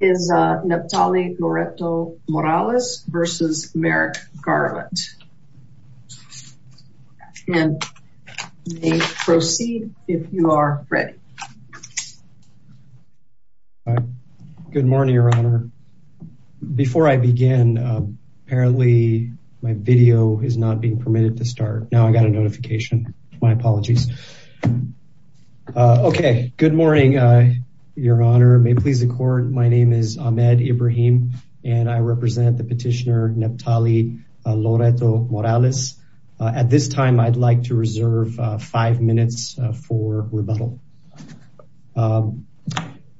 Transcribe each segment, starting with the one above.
Good morning your honor. Before I begin, apparently my video is not being permitted to start. Now I got a notification. My apologies. Okay, good morning your honor. May it please the court, my name is Ahmed Ibrahim and I represent the petitioner Neptali Loreto Morales. At this time I'd like to reserve five minutes for rebuttal.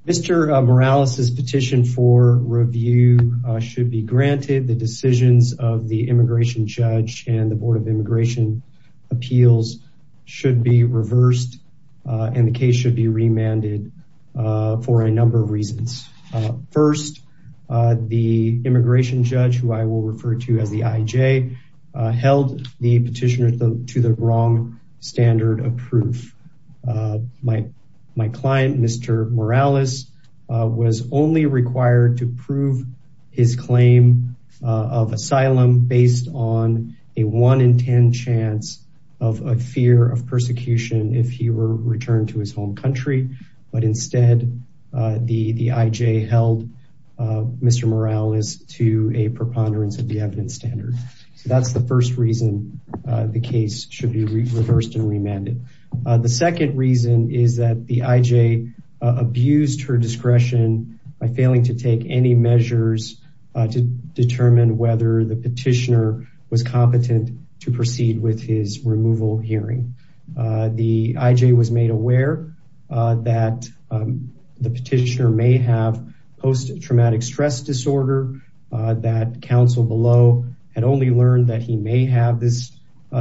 Mr. Morales's petition for review should be granted. The decisions of the immigration judge and the board of immigration appeals should be reversed and the case should be remanded for a number of reasons. First, the immigration judge, who I will refer to as the IJ, held the petitioner to the wrong standard of proof. My client, Mr. Morales, was only required to prove his claim of asylum based on a one in ten chance of a fear of persecution if he were returned to his home country, but instead the IJ held Mr. Morales to a preponderance of the evidence standard. That's the first reason the case should be reversed and remanded. The second reason is that the IJ abused her discretion by failing to take any measures to determine whether the petitioner was competent to proceed with his removal hearing. The IJ was made aware that the petitioner may have post-traumatic stress disorder, that counsel below had only learned that he may have this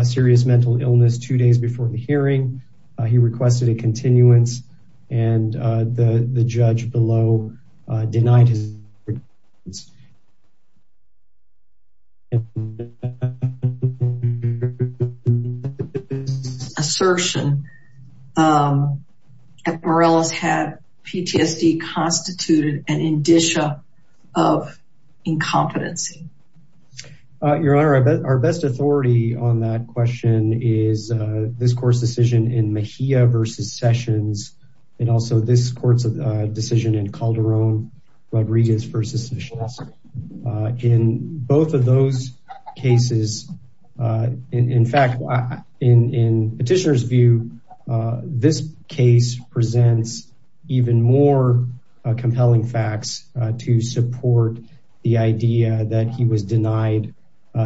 serious mental illness two days before the hearing. He requested a continuance and the judge below denied his assertion. Morales had PTSD constituted an indicia of incompetency. Your Honor, our best authority on that question is this court's decision in Mejia v. Sessions and also this court's decision in Calderon v. Sessions. In both of those cases, in fact, in the petitioner's view, this case presents even more compelling facts to support the idea that he was denied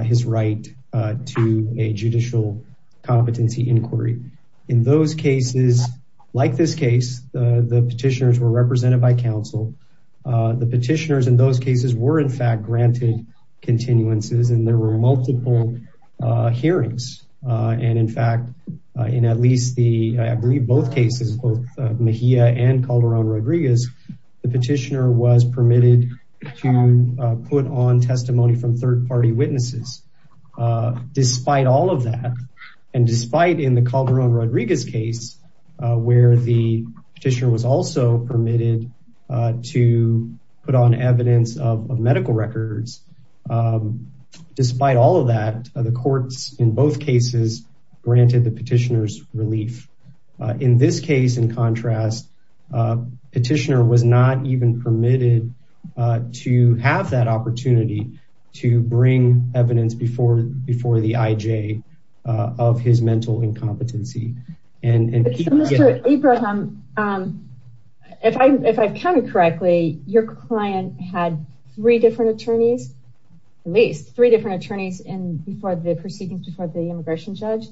his right to a judicial competency inquiry. In those cases, like this case, the petitioners were represented by counsel. The petitioners in those cases were, in fact, granted continuances and there were multiple hearings. In fact, in at least both cases, both Mejia and Calderon Rodriguez, the petitioner was permitted to put on testimony from third-party witnesses. Despite all of that and despite in the Calderon Rodriguez case where the petitioner was also permitted to put on evidence of medical records, despite all of that, the courts in both cases granted the petitioner's relief. In this case, in contrast, the petitioner was not even permitted to have that opportunity to bring evidence before the IJ of his mental incompetency. Mr. Ibrahim, if I've counted correctly, your client had three different attorneys, at least three different attorneys, before the proceedings before the immigration judge.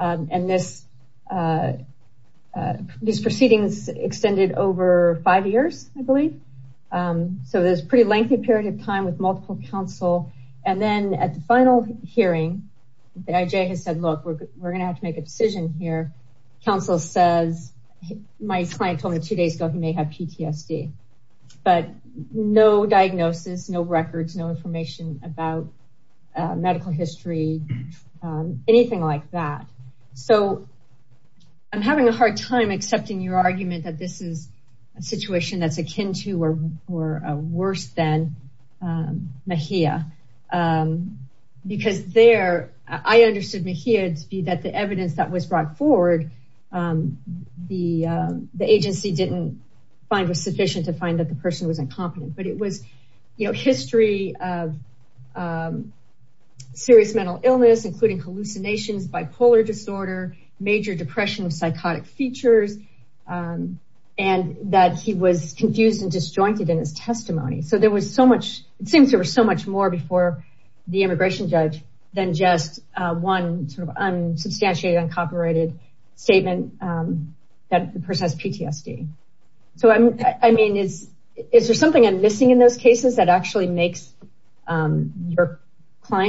And these proceedings extended over five years, I believe. So there's a pretty lengthy period of time with multiple counsel. And then at the final hearing, the IJ has said, look, we're going to have to make a decision here. Counsel says, my client told me two days ago he may have PTSD, but no diagnosis, no records, no information about medical history, anything like that. So I'm having a hard time accepting your argument that this is a situation that's akin to worse than Mejia. Because there, I understood Mejia to be that the evidence that was brought forward, the agency didn't find was sufficient to find that the person was incompetent. But it was history of serious mental illness, including hallucinations, bipolar disorder, major depression, psychotic features, and that he was confused and disjointed in his testimony. It seems there was so much more before the immigration judge than just one unsubstantiated, uncopyrighted statement that the person has PTSD. So I mean, is there something I'm missing in those statements? Your Honor,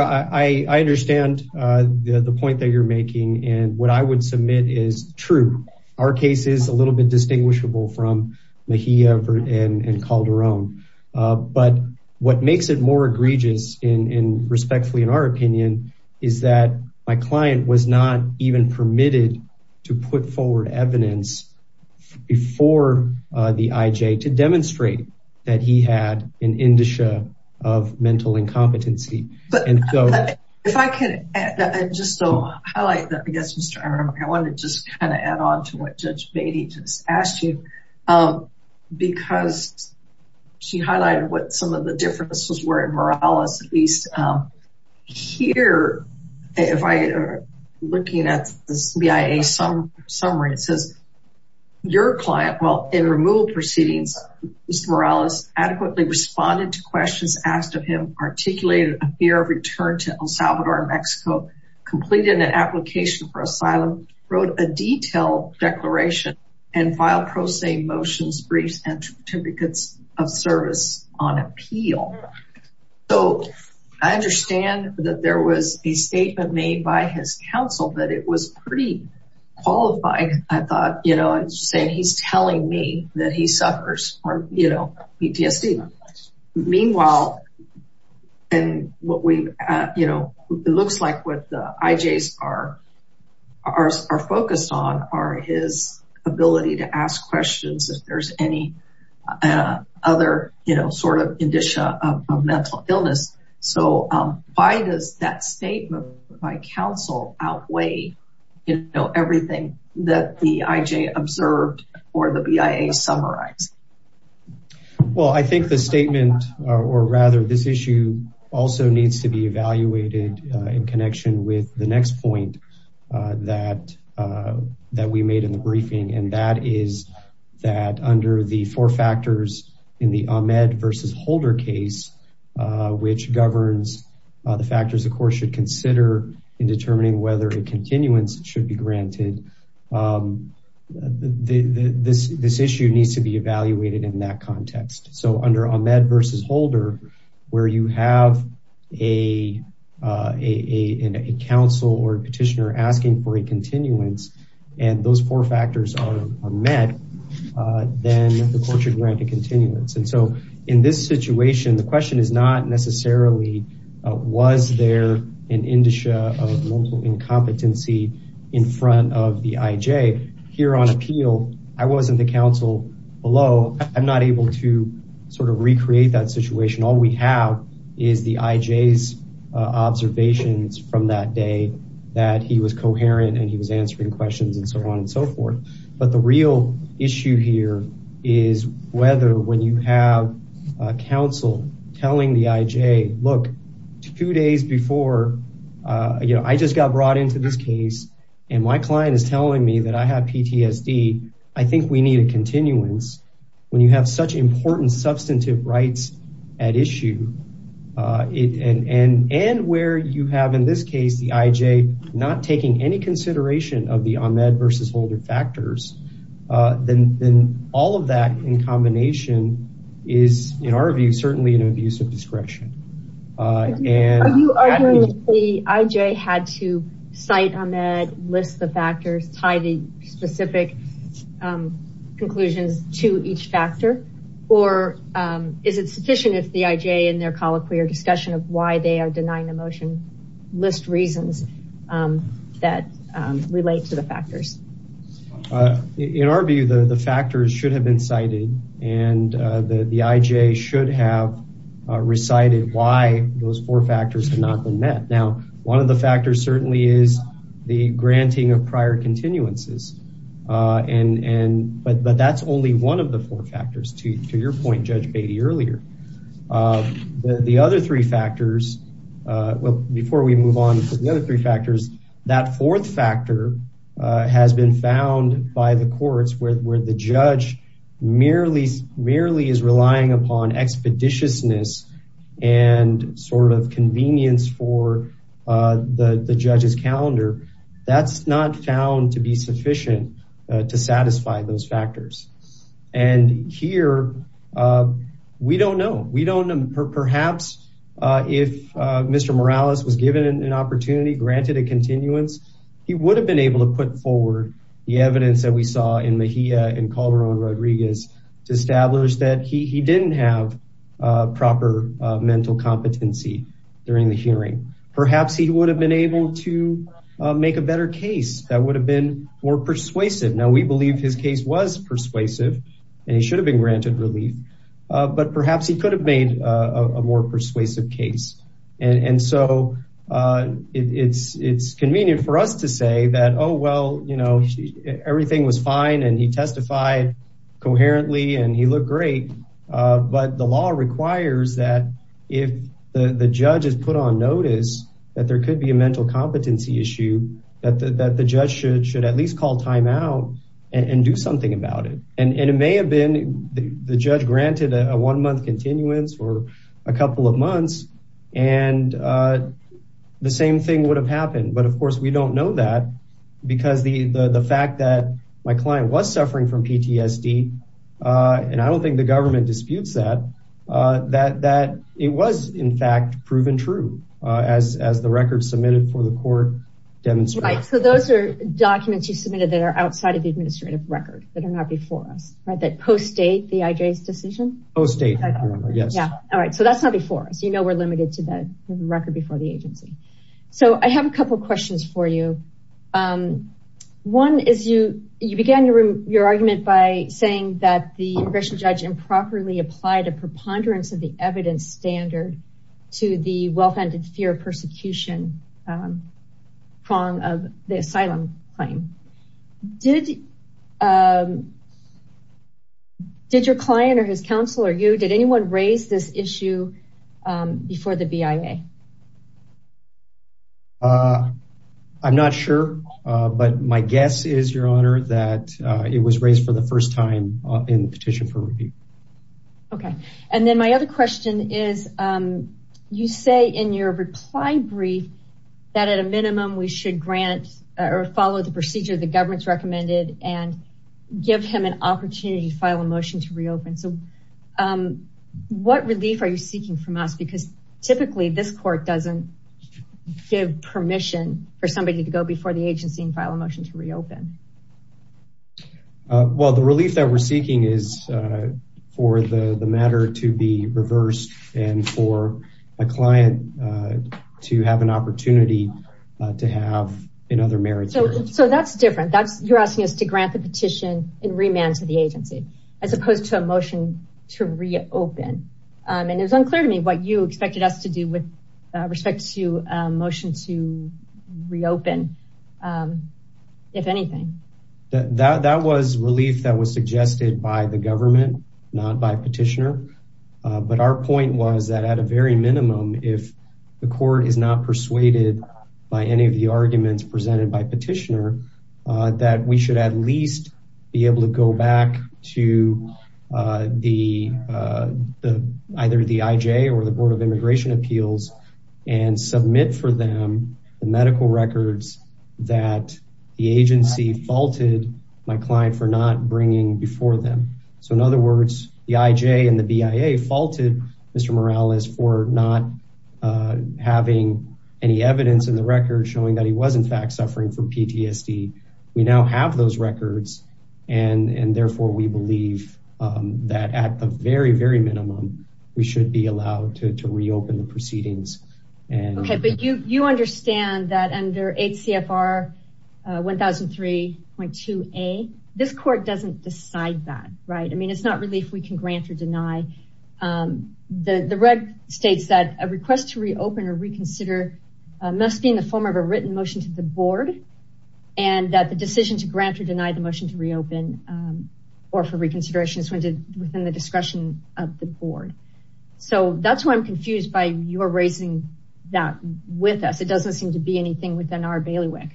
I understand the point that you're making. And what I would submit is true. Our case is a little bit distinguishable from Mejia and Calderon. But what makes it more egregious and respectfully, in our opinion, is that my client was not even permitted to put evidence before the IJ to demonstrate that he had an indicia of mental incompetency. If I could just highlight that, I guess, Mr. Aram, I wanted to just kind of add on to what Judge Beatty just asked you. Because she highlighted what some of the differences were in Morales. Here, if I am looking at this BIA summary, it says, your client, while in removal proceedings, Mr. Morales adequately responded to questions asked of him, articulated a fear of return to El Salvador and Mexico, completed an application for asylum, wrote a detailed declaration, and filed pro se motions, briefs, and certificates of service on appeal. So I understand that there was a statement made by his counsel that it was pretty qualifying. I thought, you know, saying he's telling me that he suffers from, you know, PTSD. Meanwhile, and what we, you know, it looks like what the IJs are focused on are his ability to ask questions if there's any other, you know, sort of indicia of mental illness. So why does that statement by counsel outweigh, you know, everything that the IJ observed or the BIA summarized? Well, I think the statement, or rather this issue, also needs to be evaluated in connection with the next point that we made in the briefing, and that is that under the four factors in the Ahmed versus Holder case, which governs the factors the court should consider in determining whether a continuance should be granted, this issue needs to be evaluated in that context. So under Ahmed versus Holder, where you have a counsel or petitioner asking for a continuance, and those four factors are met, then the court should grant a continuance. And so in this situation, the question is not necessarily was there an indicia of mental incompetency in front of the IJ. Here on appeal, I wasn't the counsel below. I'm not able to sort of recreate that situation. All we have is the IJ's observations from that day that he was coherent and he was answering questions and so on and so forth. But the real issue here is whether when you have counsel telling the IJ, look, two days before, you know, I just got brought into this case and my client is telling me that I have PTSD, I think we need a continuance. When you have such important substantive rights at issue, and where you have in this case the IJ not taking any consideration of the Ahmed versus Holder factors, then all of that in combination is, in our view, certainly an abuse of discretion. Are you arguing that the IJ had to cite Ahmed, list the factors, tie the specific conclusions to each factor, or is it sufficient if the IJ in their colloquy or discussion of why they are denying the motion list reasons that relate to factors? In our view, the factors should have been cited and the IJ should have recited why those four factors have not been met. Now, one of the factors certainly is the granting of prior continuances, but that's only one of the four factors, to your point, Judge Beatty, earlier. The other three factors, well, before we move on to the other three factors, that fourth factor has been found by the courts where the judge merely is relying upon expeditiousness and sort of convenience for the judge's calendar. That's not found to be sufficient to satisfy those factors. And here, we don't know. Perhaps if Mr. Morales was given an opportunity, granted a continuance, he would have been able to put forward the evidence that we saw in Mejia and Calderon-Rodriguez to establish that he didn't have proper mental competency during the hearing. Perhaps he would have been able to make a better case that would have been more persuasive. Now, we believe his case was persuasive and he should have been granted relief, but perhaps he could have made a more persuasive case. And so, it's convenient for us to say that, oh, well, everything was fine and he testified coherently and he looked great, but the law requires that if the judge is put on notice that there could be a mental competency issue, that the judge should at least call timeout and do something about it. And it may have been the judge granted a one-month continuance or a couple of months, and the same thing would have happened. But of course, we don't know that because the fact that my client was suffering from PTSD, and I don't think the government disputes that, that it was, in fact, proven true as the record submitted for the court demonstrates. Right, so those are documents you submitted that are outside of the administrative record that are not before us, right, that post-date the IJ's decision? Post-date, yes. All right, so that's not before us. You know we're limited to the record before the agency. So, I have a couple questions for you. One is, you began your argument by saying that the congressional judge improperly applied a preponderance of the evidence standard to the fear of persecution prong of the asylum claim. Did your client or his counsel or you, did anyone raise this issue before the BIA? I'm not sure, but my guess is, Your Honor, that it was raised for the first time in the petition for review. Okay, and then my other question is, you say in your reply brief that at a minimum we should grant or follow the procedure the government's recommended and give him an opportunity to file a motion to reopen. So, what relief are you seeking from us? Because typically this court doesn't give permission for somebody to go before the relief that we're seeking is for the matter to be reversed and for a client to have an opportunity to have in other merits. So, that's different. That's, you're asking us to grant the petition in remand to the agency as opposed to a motion to reopen. And it was unclear to me what you by the government, not by petitioner. But our point was that at a very minimum, if the court is not persuaded by any of the arguments presented by petitioner, that we should at least be able to go back to either the IJ or the Board of Immigration Appeals and submit for them the medical records that the agency faulted my client for not bringing before them. So, in other words, the IJ and the BIA faulted Mr. Morales for not having any evidence in the record showing that he was in fact suffering from PTSD. We now have those records and therefore we believe that at the very, very minimum we should be allowed to reopen the proceedings. Okay, but you understand that under HCFR 1003.2a, this court doesn't decide that, right? I mean, it's not really if we can grant or deny. The reg states that a request to reopen or reconsider must be in the form of a written motion to the board and that the decision to grant or deny the motion to reopen or for reconsideration is within the discretion of the board. So, that's why I'm confused by your raising that with us. It doesn't seem to be anything within our bailiwick.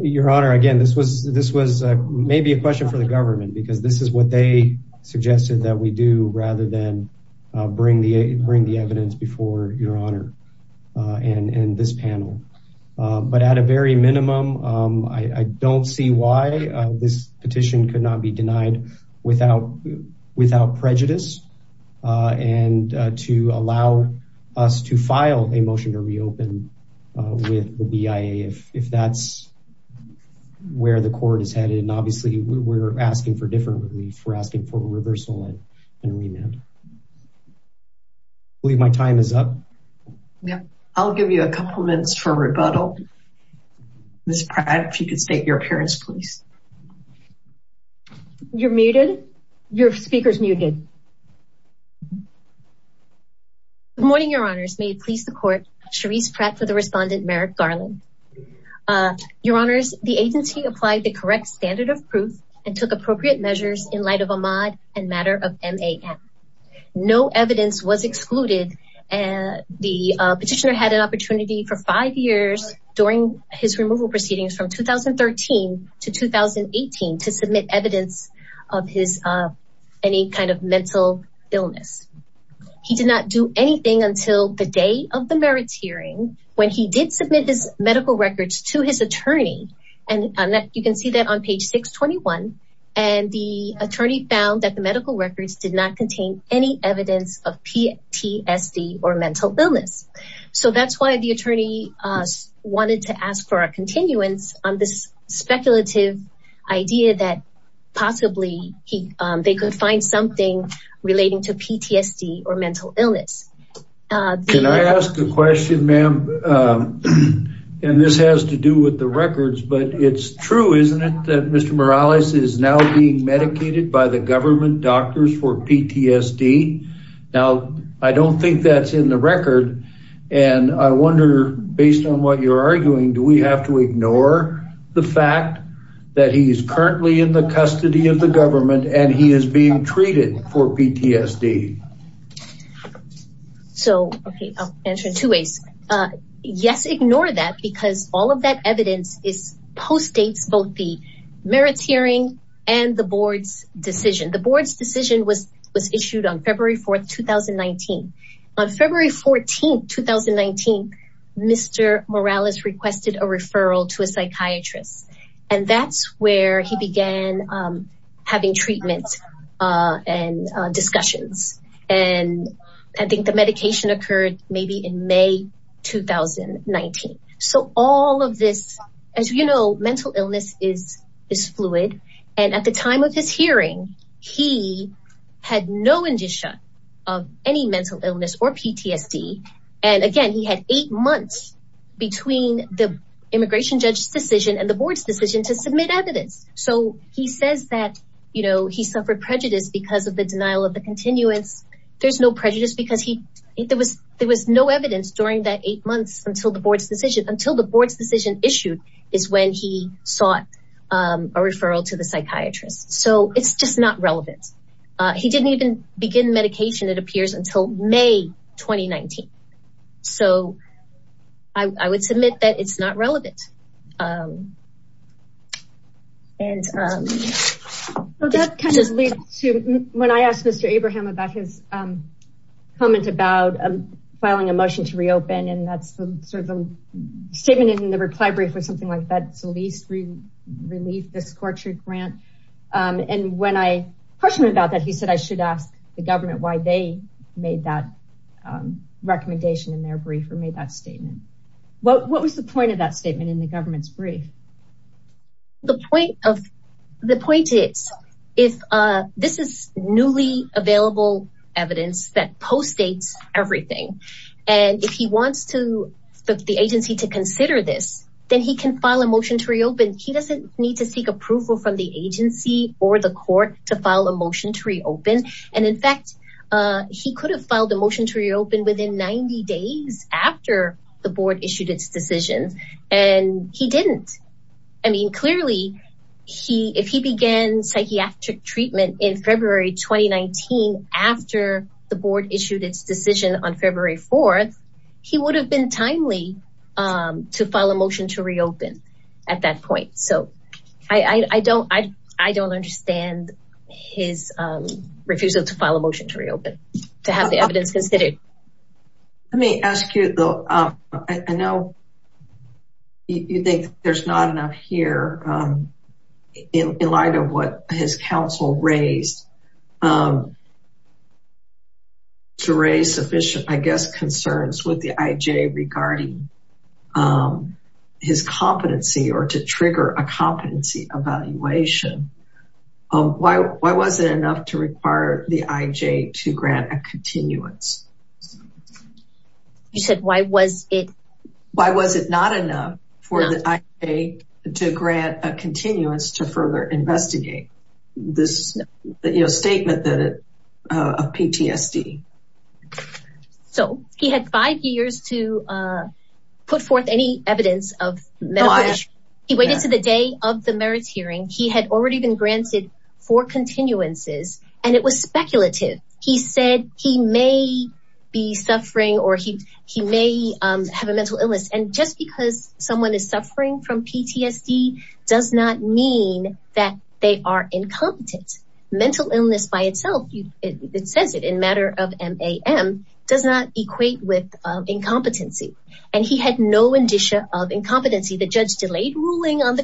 Your Honor, again, this was maybe a question for the government because this is what they suggested that we do rather than bring the evidence before Your Honor and this panel. But at a very minimum, I don't see why this petition could not be denied without prejudice. And to allow us to file a motion to reopen with the BIA if that's where the court is headed. And obviously, we're asking for different relief. We're asking for reversal and remand. I believe my time is up. Yeah, I'll give you a couple minutes for rebuttal. Ms. Pratt, if you could state your appearance, please. You're muted. Your speaker's muted. Good morning, Your Honors. May it please the court. Cherise Pratt for the respondent, Merrick Garland. Your Honors, the agency applied the correct standard of proof and took appropriate measures in light of Ahmad and matter of MAM. No evidence was excluded and the petitioner had an opportunity for five years during his removal proceedings from 2013 to 2018 to submit evidence of his any kind of mental illness. He did not do anything until the day of the merits hearing when he did submit his medical records to his attorney. And you can see that on page 621. And the attorney found that the medical records did not contain any evidence of PTSD or mental illness. So that's why the attorney wanted to ask for a continuance on this speculative idea that possibly they could find something relating to PTSD or mental illness. Can I ask a question, ma'am? And this has to do with the records, but it's true, isn't it, that Mr. Morales is now being medicated by the government doctors for PTSD? Now, I don't think that's in the record. And I wonder, based on what you're arguing, do we have to ignore the fact that he is currently in the custody of the government and he is being treated for PTSD? So, okay, I'll answer in two ways. Yes, ignore that because all of that evidence is post-dates both the merits hearing and the board's decision. The board's decision was issued on February 4th, 2019. On February 14th, 2019, Mr. Morales requested a referral to a psychiatrist. And that's where he began having treatments and discussions. And I think the medication occurred maybe in May 2019. So all of this, as you know, mental illness is fluid. And at the time of his of any mental illness or PTSD. And again, he had eight months between the immigration judge's decision and the board's decision to submit evidence. So he says that he suffered prejudice because of the denial of the continuance. There's no prejudice because there was no evidence during that eight months until the board's decision issued is when he sought a referral to the medication. It appears until May, 2019. So I would submit that it's not relevant. And that kind of leads to when I asked Mr. Abraham about his comment about filing a motion to reopen and that's sort of a statement in the reply brief or something like that. So at least leave the scorched grant. And when I questioned about that, he said, I should ask the government why they made that recommendation in their brief or made that statement. What was the point of that statement in the government's brief? The point is, if this is newly available evidence that postdates everything. And if he wants to the agency to consider this, then he can file a motion to reopen. He doesn't need to seek approval from the agency or the court to file a motion to reopen. And in fact, he could have filed a motion to reopen within 90 days after the board issued its decision and he didn't. I mean, clearly, if he began psychiatric treatment in February, 2019, after the board issued its decision on February 4th, he would have been timely to file a motion to reopen at that point. So I don't understand his refusal to file a motion to reopen to have the evidence considered. Let me ask you though, I know you think there's not enough here in light what his counsel raised to raise sufficient, I guess, concerns with the IJ regarding his competency or to trigger a competency evaluation. Why was it enough to require the IJ to grant a continuance? You said, why was it? Why was it not enough for the IJ to grant a continuance to further investigate this statement of PTSD? So he had five years to put forth any evidence of medical issue. He waited to the day of the merits hearing. He had already been granted four continuances, and it was speculative. He said he may be suffering or he may have a mental illness. And just because someone is suffering from PTSD does not mean that they are incompetent. Mental illness by itself, it says it in matter of MAM does not equate with incompetency. And he had no indicia of incompetency. The judge delayed ruling on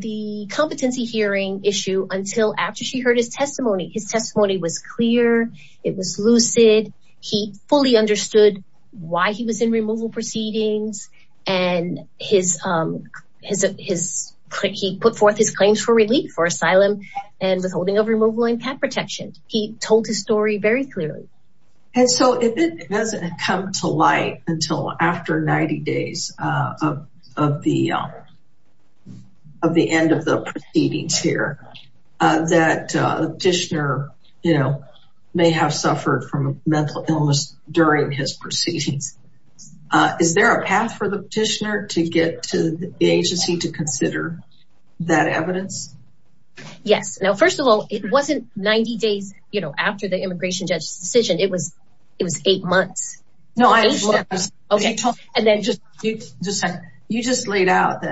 the competency hearing issue until after she heard his testimony. His testimony was clear. It was lucid. He fully understood why he was in removal proceedings. And he put forth his claims for relief for asylum and withholding of removal and pet protection. He told his story very clearly. And so it hasn't come to light until after 90 days of the end of the proceedings here. That petitioner, you know, may have suffered from mental illness during his proceedings. Is there a path for the petitioner to get to the agency to consider that evidence? Yes. Now, first of all, it wasn't 90 days, you know, after the immigration judge's decision, it was it was eight months. No, I understand. Okay. And then just you just you just laid out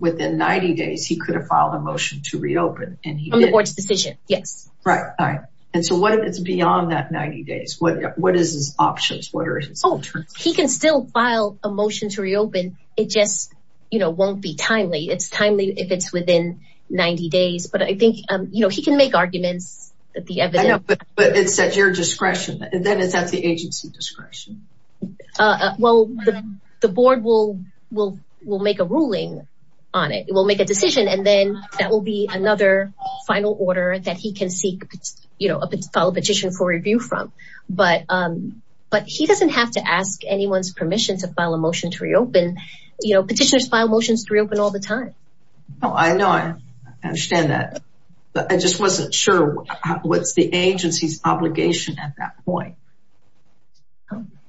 within 90 days, he could have filed a motion to reopen. And he made the decision. Yes. Right. And so what if it's beyond that 90 days? What what is his options? What are his options? He can still file a motion to reopen. It just, you know, won't be timely. It's timely if it's within 90 days. But I think, you know, he can make arguments that the evidence. But it's at your discretion. Then it's at the agency discretion. Uh, well, the board will will will make a ruling on it will make a decision. And then that will be another final order that he can seek, you know, a petition for review from. But but he doesn't have to ask anyone's permission to file a motion to reopen. You know, petitioners file motions to reopen all the time. Oh, I know. I understand that. But I just wasn't sure what's the agency's obligation at that point.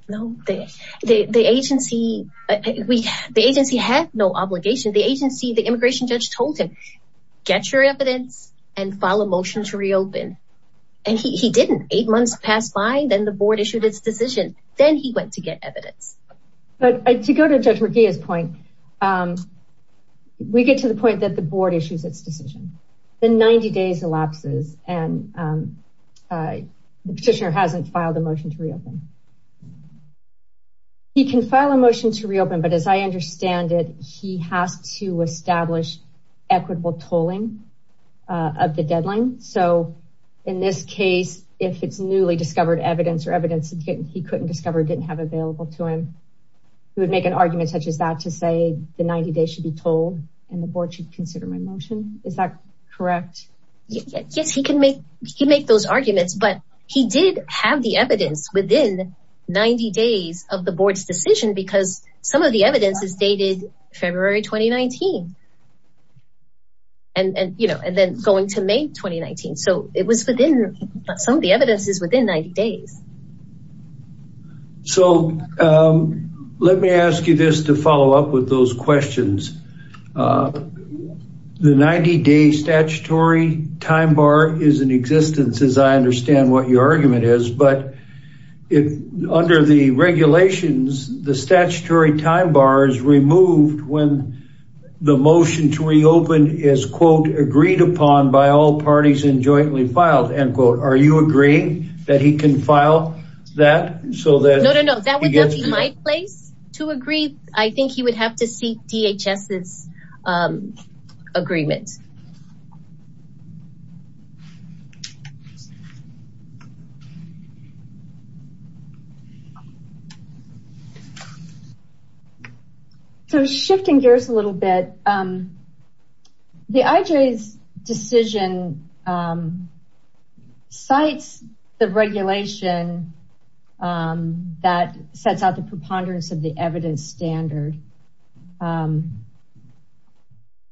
No, the agency, the agency had no obligation. The agency, the immigration judge told him, get your evidence and file a motion to reopen. And he didn't. Eight months passed by. Then the board issued its decision. Then he went to get evidence. But to go to Judge Ruggia's point, we get to the point that the board issues its decision. The 90 days elapses and the petitioner hasn't filed a motion to reopen. He can file a motion to reopen, but as I understand it, he has to establish equitable tolling of the deadline. So in this case, if it's newly discovered evidence or evidence he couldn't discover, didn't have available to him, he would make an argument such as that to say the 90 days should be tolled and the board should consider my motion. Is that correct? Yes, he can make, he make those arguments, but he did have the evidence within 90 days of the board's decision because some of the evidence is dated February 2019. And, you know, and then going to May 2019. So it was within some of the evidences within 90 days. So, let me ask you this to follow up with those questions. The 90 day statutory time bar is in existence, as I understand what your argument is, but if under the regulations, the statutory time bar is removed when the motion to reopen is, quote, agreed upon by all parties and jointly filed, end quote. Are you agreeing that he can file that? No, no, no. That would not be my place to agree. I think he would have to seek DHS's agreement. So, shifting gears a little bit, the IJ's decision cites the regulation that sets out the preponderance of the evidence standard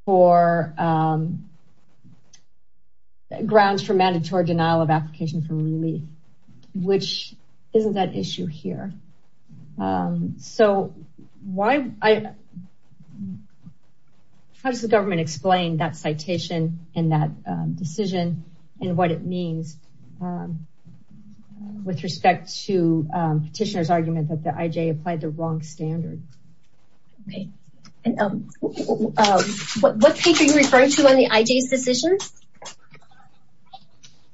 for grounds for mandatory denial of application for relief, which isn't that issue here. So, why, how does the government explain that citation and that decision and what it means with respect to petitioner's argument that the IJ applied the wrong standard? Okay, and what page are you referring to on the IJ's decision?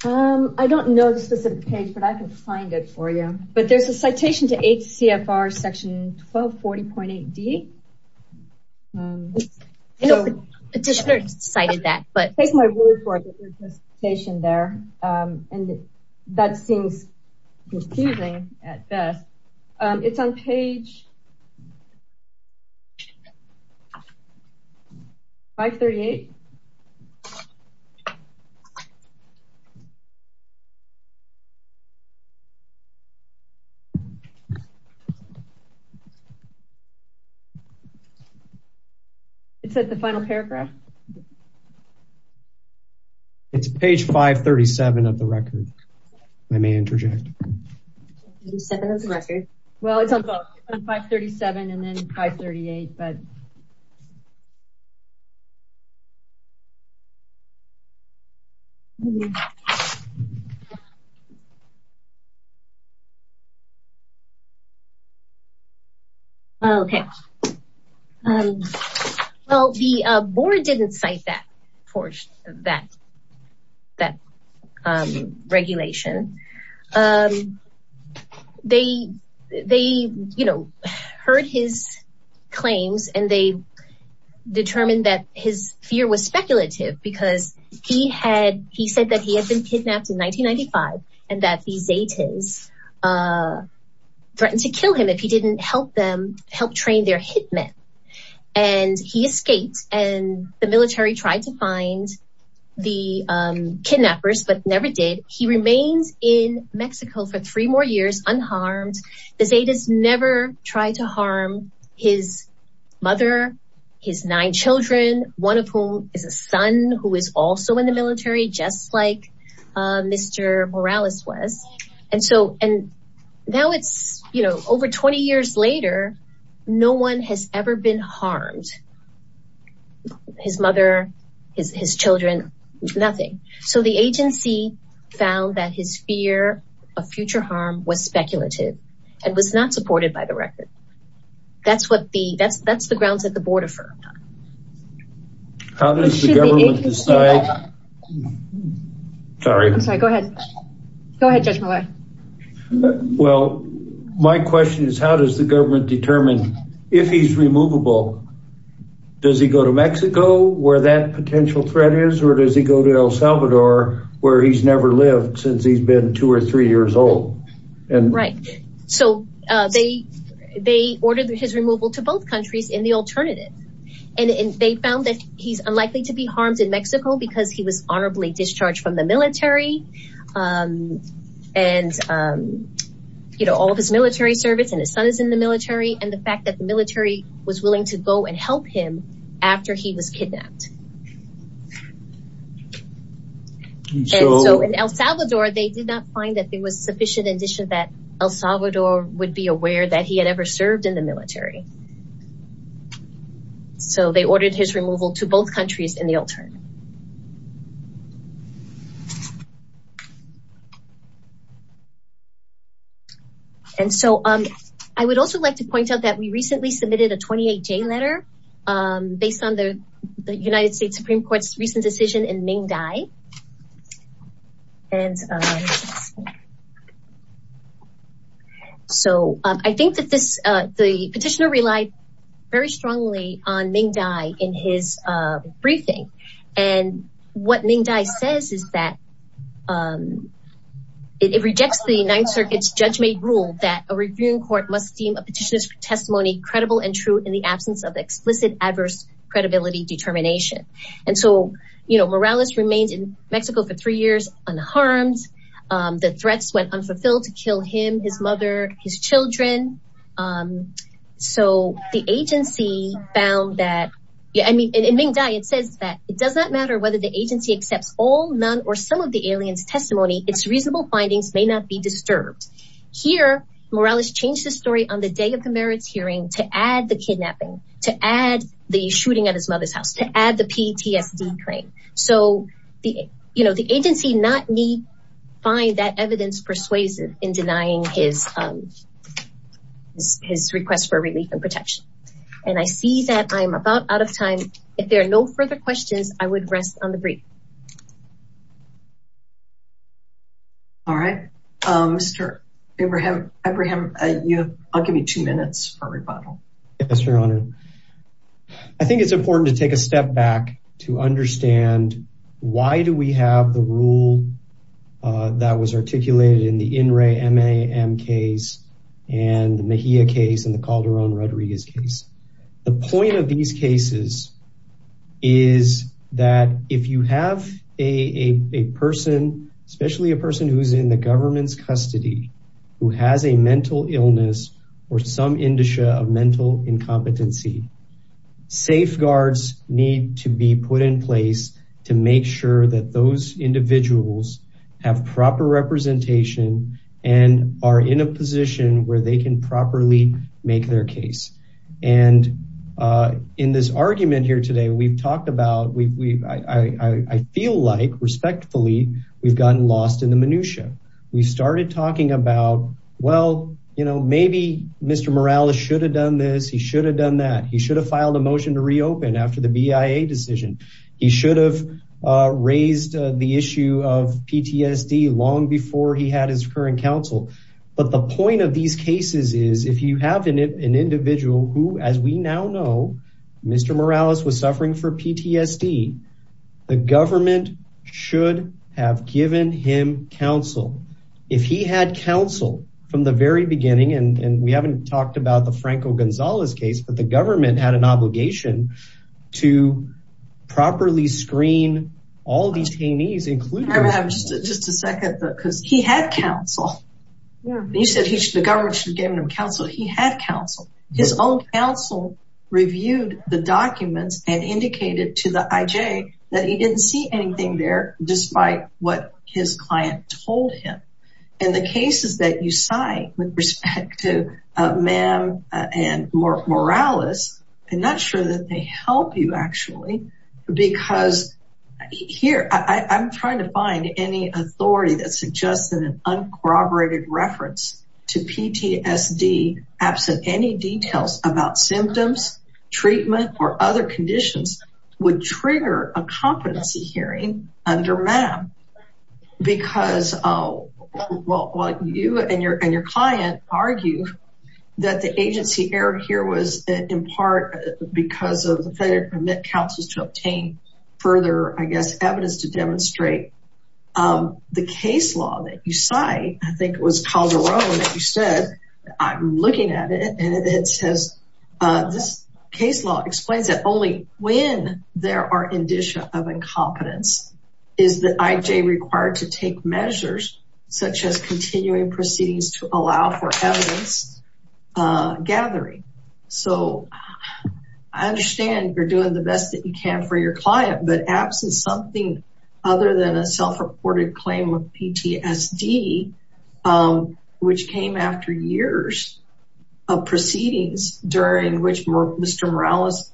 I don't know the specific page, but I can find it for you. But there's a citation to HCFR section 1240.8D. Petitioner cited that, but... Take my word for it, there's a citation there, and that seems confusing at best. It's on page 538. It's at the final paragraph. It's page 537 of the record. I may interject. Page 537 of the record. Well, it's on page 537 and then page 538, but... Okay, well, the board didn't cite that portion of that regulation. They, you know, heard his claims and they determined that his fear was speculative because he said that he had been kidnapped in 1995 and that the Zetas threatened to kill him if he didn't help them help train their hitmen. And he escaped and the military tried to find the kidnappers, but never did. He remains in Mexico for three more years unharmed. The Zetas never tried to harm his mother, his nine children, one of whom is a son who is also in the military, just like Mr. Morales was. And so, and now it's, you know, over 20 years later, no one has ever been harmed. His mother, his children, nothing. So the agency found that his fear of future harm was speculative and was not supported by the record. That's what the, that's the grounds that the board affirmed. How does the government decide? Sorry. I'm sorry. Go ahead. Go ahead, Judge Malloy. Well, my question is, how does the government determine if he's removable? Does he go to Mexico where that potential threat is? Or does he go to El Salvador where he's never lived since he's been two or three years old? Right. So they, they ordered his removal to both countries in the alternative. And they found that he's unlikely to be harmed in Mexico because he was honorably discharged from the military. And, you know, all of his military service and his son is in the military. And the fact that the military was willing to go and help him after he was kidnapped. And so in El Salvador, they did not find that there was sufficient addition that El Salvador would be aware that he had ever served in the military. So they ordered his removal to both countries in the alternative. And so I would also like to point out that we recently submitted a 28-J letter based on the United States Supreme Court's recent decision in Ming Dai. And so I think that this, the petitioner relied very strongly on Ming Dai in his testimony. And what Ming Dai says is that it rejects the Ninth Circuit's judge-made rule that a reviewing court must deem a petitioner's testimony credible and true in the absence of explicit adverse credibility determination. And so, you know, Morales remained in Mexico for three years unharmed. The threats went unfulfilled to kill him, his mother, his children. So the agency found that, I mean, in Ming Dai, it says that it does not matter whether the agency accepts all, none, or some of the alien's testimony, its reasonable findings may not be disturbed. Here, Morales changed the story on the day of the merits hearing to add the kidnapping, to add the shooting at his mother's house, to add the PTSD claim. So, you know, the agency did not find that evidence persuasive in denying his request for relief and protection. And I see that I'm about out of time. If there are no further questions, I would rest on the brief. All right. Mr. Abraham, I'll give you two minutes for rebuttal. Yes, Your Honor. I think it's important to take a step back to understand why do we have the rule that was articulated in the INRE MAM case and the Mejia case and the Calderon-Rodriguez case. The point of these cases is that if you have a person, especially a person who's in the government's custody, who has a mental illness or some indicia of mental incompetency, safeguards need to be put in place to make sure that those individuals have proper representation and are in a position where they can properly make their case. And in this argument here today, we've talked about, I feel like, respectfully, we've gotten lost in the minutia. We started talking about, well, you know, maybe Mr. Morales should have done this. He should have done that. He should have filed a motion to reopen after the BIA decision. He should have raised the issue of PTSD long before he had his current counsel. But the point of these cases is if you have an individual who, as we now know, Mr. Morales was suffering from PTSD, the government should have given him counsel. If he had counsel from the very beginning, and we haven't talked about the obligation to properly screen all detainees, including... Can I have just a second, because he had counsel. He said the government should have given him counsel. He had counsel. His own counsel reviewed the documents and indicated to the IJ that he didn't see anything there, despite what his client told him. And the cases that you cite with respect to Ma'am and Mr. Morales, I'm not sure that they help you, actually, because here, I'm trying to find any authority that suggests that an uncorroborated reference to PTSD, absent any details about symptoms, treatment, or other conditions, would trigger a competency hearing under Ma'am. Because, well, you and your client argue that the agency error here was in part because of the failure to permit counsels to obtain further, I guess, evidence to demonstrate the case law that you cite. I think it was Calderon that you said, I'm looking at it, and it says, this case law explains that only when there are indicia of incompetence is the IJ required to take measures such as continuing proceedings to allow for evidence gathering. So, I understand you're doing the best that you can for your client, but absent something other than a self-reported PTSD, which came after years of proceedings during which Mr. Morales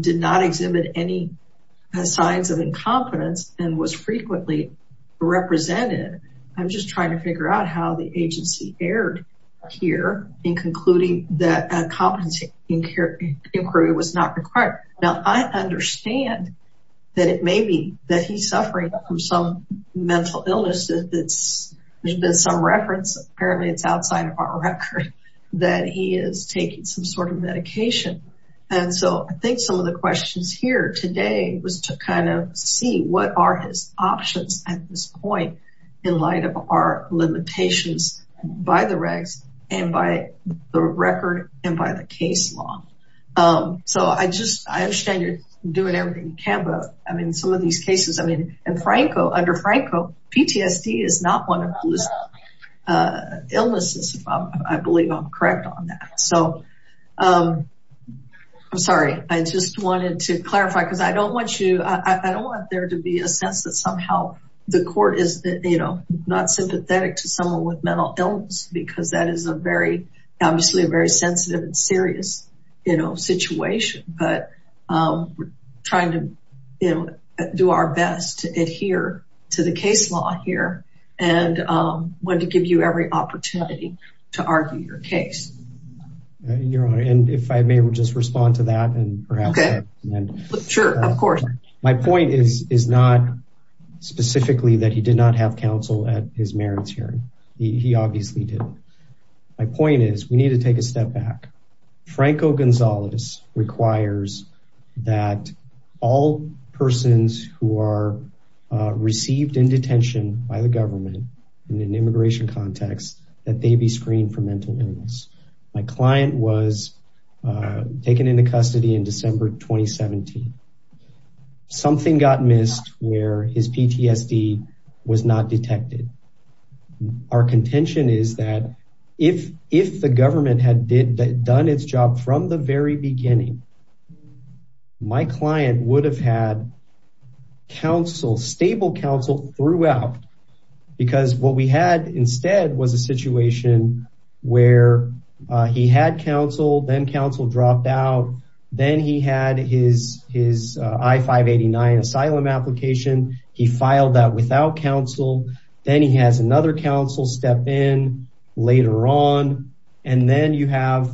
did not exhibit any signs of incompetence and was frequently represented, I'm just trying to figure out how the agency erred here in concluding that a competency inquiry was not required. Now, I think some of the questions here today was to kind of see what are his options at this point in light of our limitations by the regs and by the record and by the case law. So, I just, I understand you're doing everything you can, but I mean some of these cases, I mean, under Franco, PTSD is not one of those illnesses, I believe I'm correct on that. So, I'm sorry, I just wanted to clarify because I don't want you, I don't want there to be a sense that somehow the court is not sympathetic to someone with mental illness because that is a very, obviously, a very sensitive and serious situation, but we're trying to do our best to adhere to the case law here and want to give you every opportunity to argue your case. Your Honor, and if I may just respond to that and perhaps... Sure, of course. My point is not specifically that he did not have counsel at his merits hearing, he obviously did. My point is we need to take a step back. Franco Gonzalez requires that all persons who are received in detention by the government in an immigration context that they be screened for mental illness. My client was taken into custody in December 2017. Something got missed where his if the government had done its job from the very beginning, my client would have had counsel, stable counsel throughout because what we had instead was a situation where he had counsel, then counsel dropped out, then he had his I-589 asylum application, he filed that without counsel, then he has another counsel step in later on, and then you have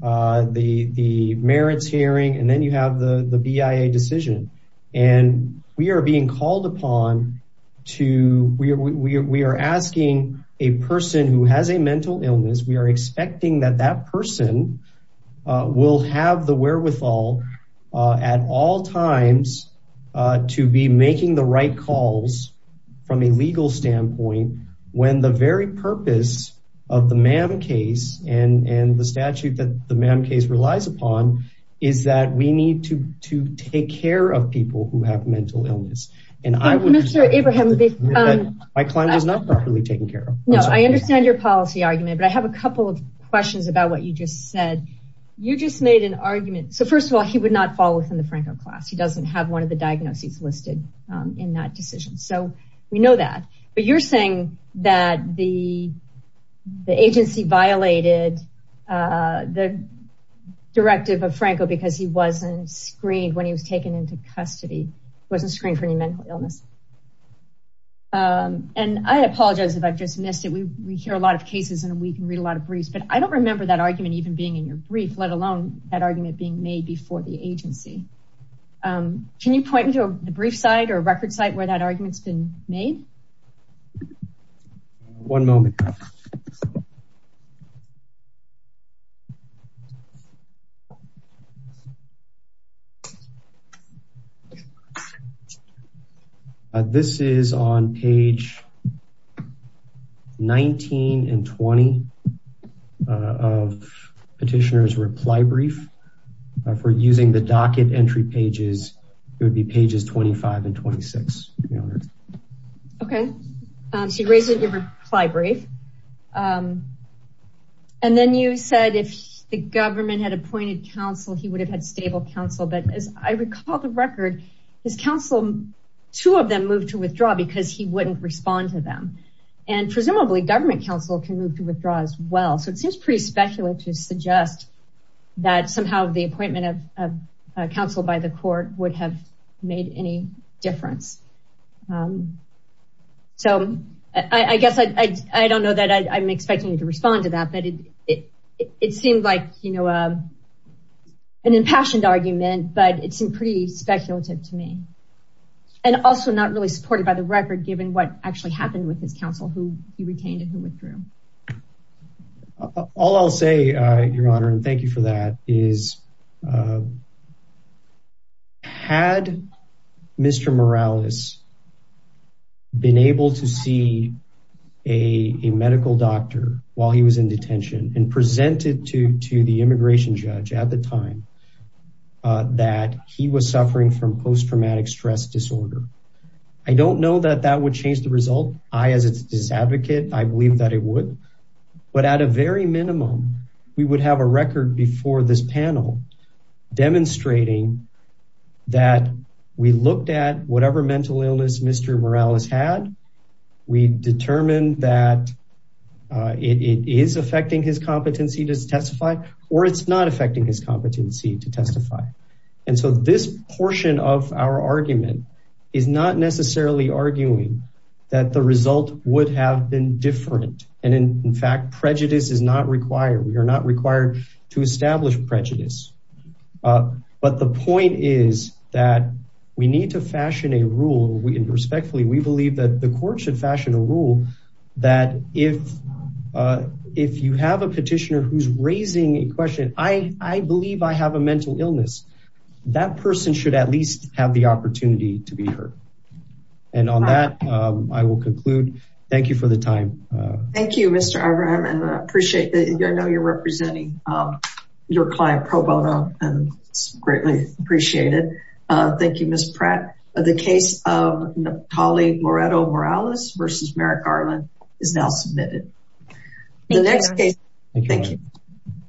the merits hearing, and then you have the BIA decision. We are being called upon to... We are asking a person who has a mental illness, we are expecting that that person will have the wherewithal at all times to be making the right calls from a legal standpoint when the very purpose of the MAM case and the statute that the MAM case relies upon is that we need to take care of people who have mental illness. And I would... Mr. Abraham... My client was not properly taken care of. No, I understand your policy argument, but I have a couple of questions about what you just said. You just made an argument... So, have one of the diagnoses listed in that decision. So, we know that, but you're saying that the agency violated the directive of Franco because he wasn't screened when he was taken into custody, wasn't screened for any mental illness. And I apologize if I've just missed it. We hear a lot of cases in a week and read a lot of briefs, but I don't remember that argument even being in your brief, let alone that argument being made before the agency. Can you point me to a brief site or a record site where that argument's been made? One moment. Okay. This is on page 19 and 20 of petitioner's reply brief. If we're using the docket entry pages, it would be pages 25 and 26. Okay. So, you raised it in your reply brief. And then you said if the government had appointed counsel, he would have had stable counsel. But as I recall the record, his counsel, two of them moved to withdraw because he wouldn't respond to them. And presumably government counsel can move to withdraw as well. So, it seems pretty speculative to suggest that somehow the appointment of counsel by the court would have made any difference. So, I guess I don't know that I'm expecting you to respond to that, but it seemed like an impassioned argument, but it seemed pretty speculative to me. And also not really supported by the record given what actually happened with his counsel, who he retained and withdrew. All I'll say, Your Honor, and thank you for that, is had Mr. Morales been able to see a medical doctor while he was in detention and presented to the immigration judge at the time that he was suffering from post-traumatic stress disorder, I don't know that that would change the opinion that it would. But at a very minimum, we would have a record before this panel demonstrating that we looked at whatever mental illness Mr. Morales had, we determined that it is affecting his competency to testify, or it's not affecting his competency to testify. And so, this portion of our argument is not necessarily arguing that the result would have been different. And in fact, prejudice is not required. We are not required to establish prejudice. But the point is that we need to fashion a rule, and respectfully, we believe that the court should fashion a rule that if you have a petitioner who's raising a question, I believe I have a opportunity to be heard. And on that, I will conclude. Thank you for the time. Thank you, Mr. Abraham, and I appreciate that. I know you're representing your client, Pro Bono, and it's greatly appreciated. Thank you, Ms. Pratt. The case of Napoli Moretto-Morales v. Merrick Garland is now submitted. Thank you.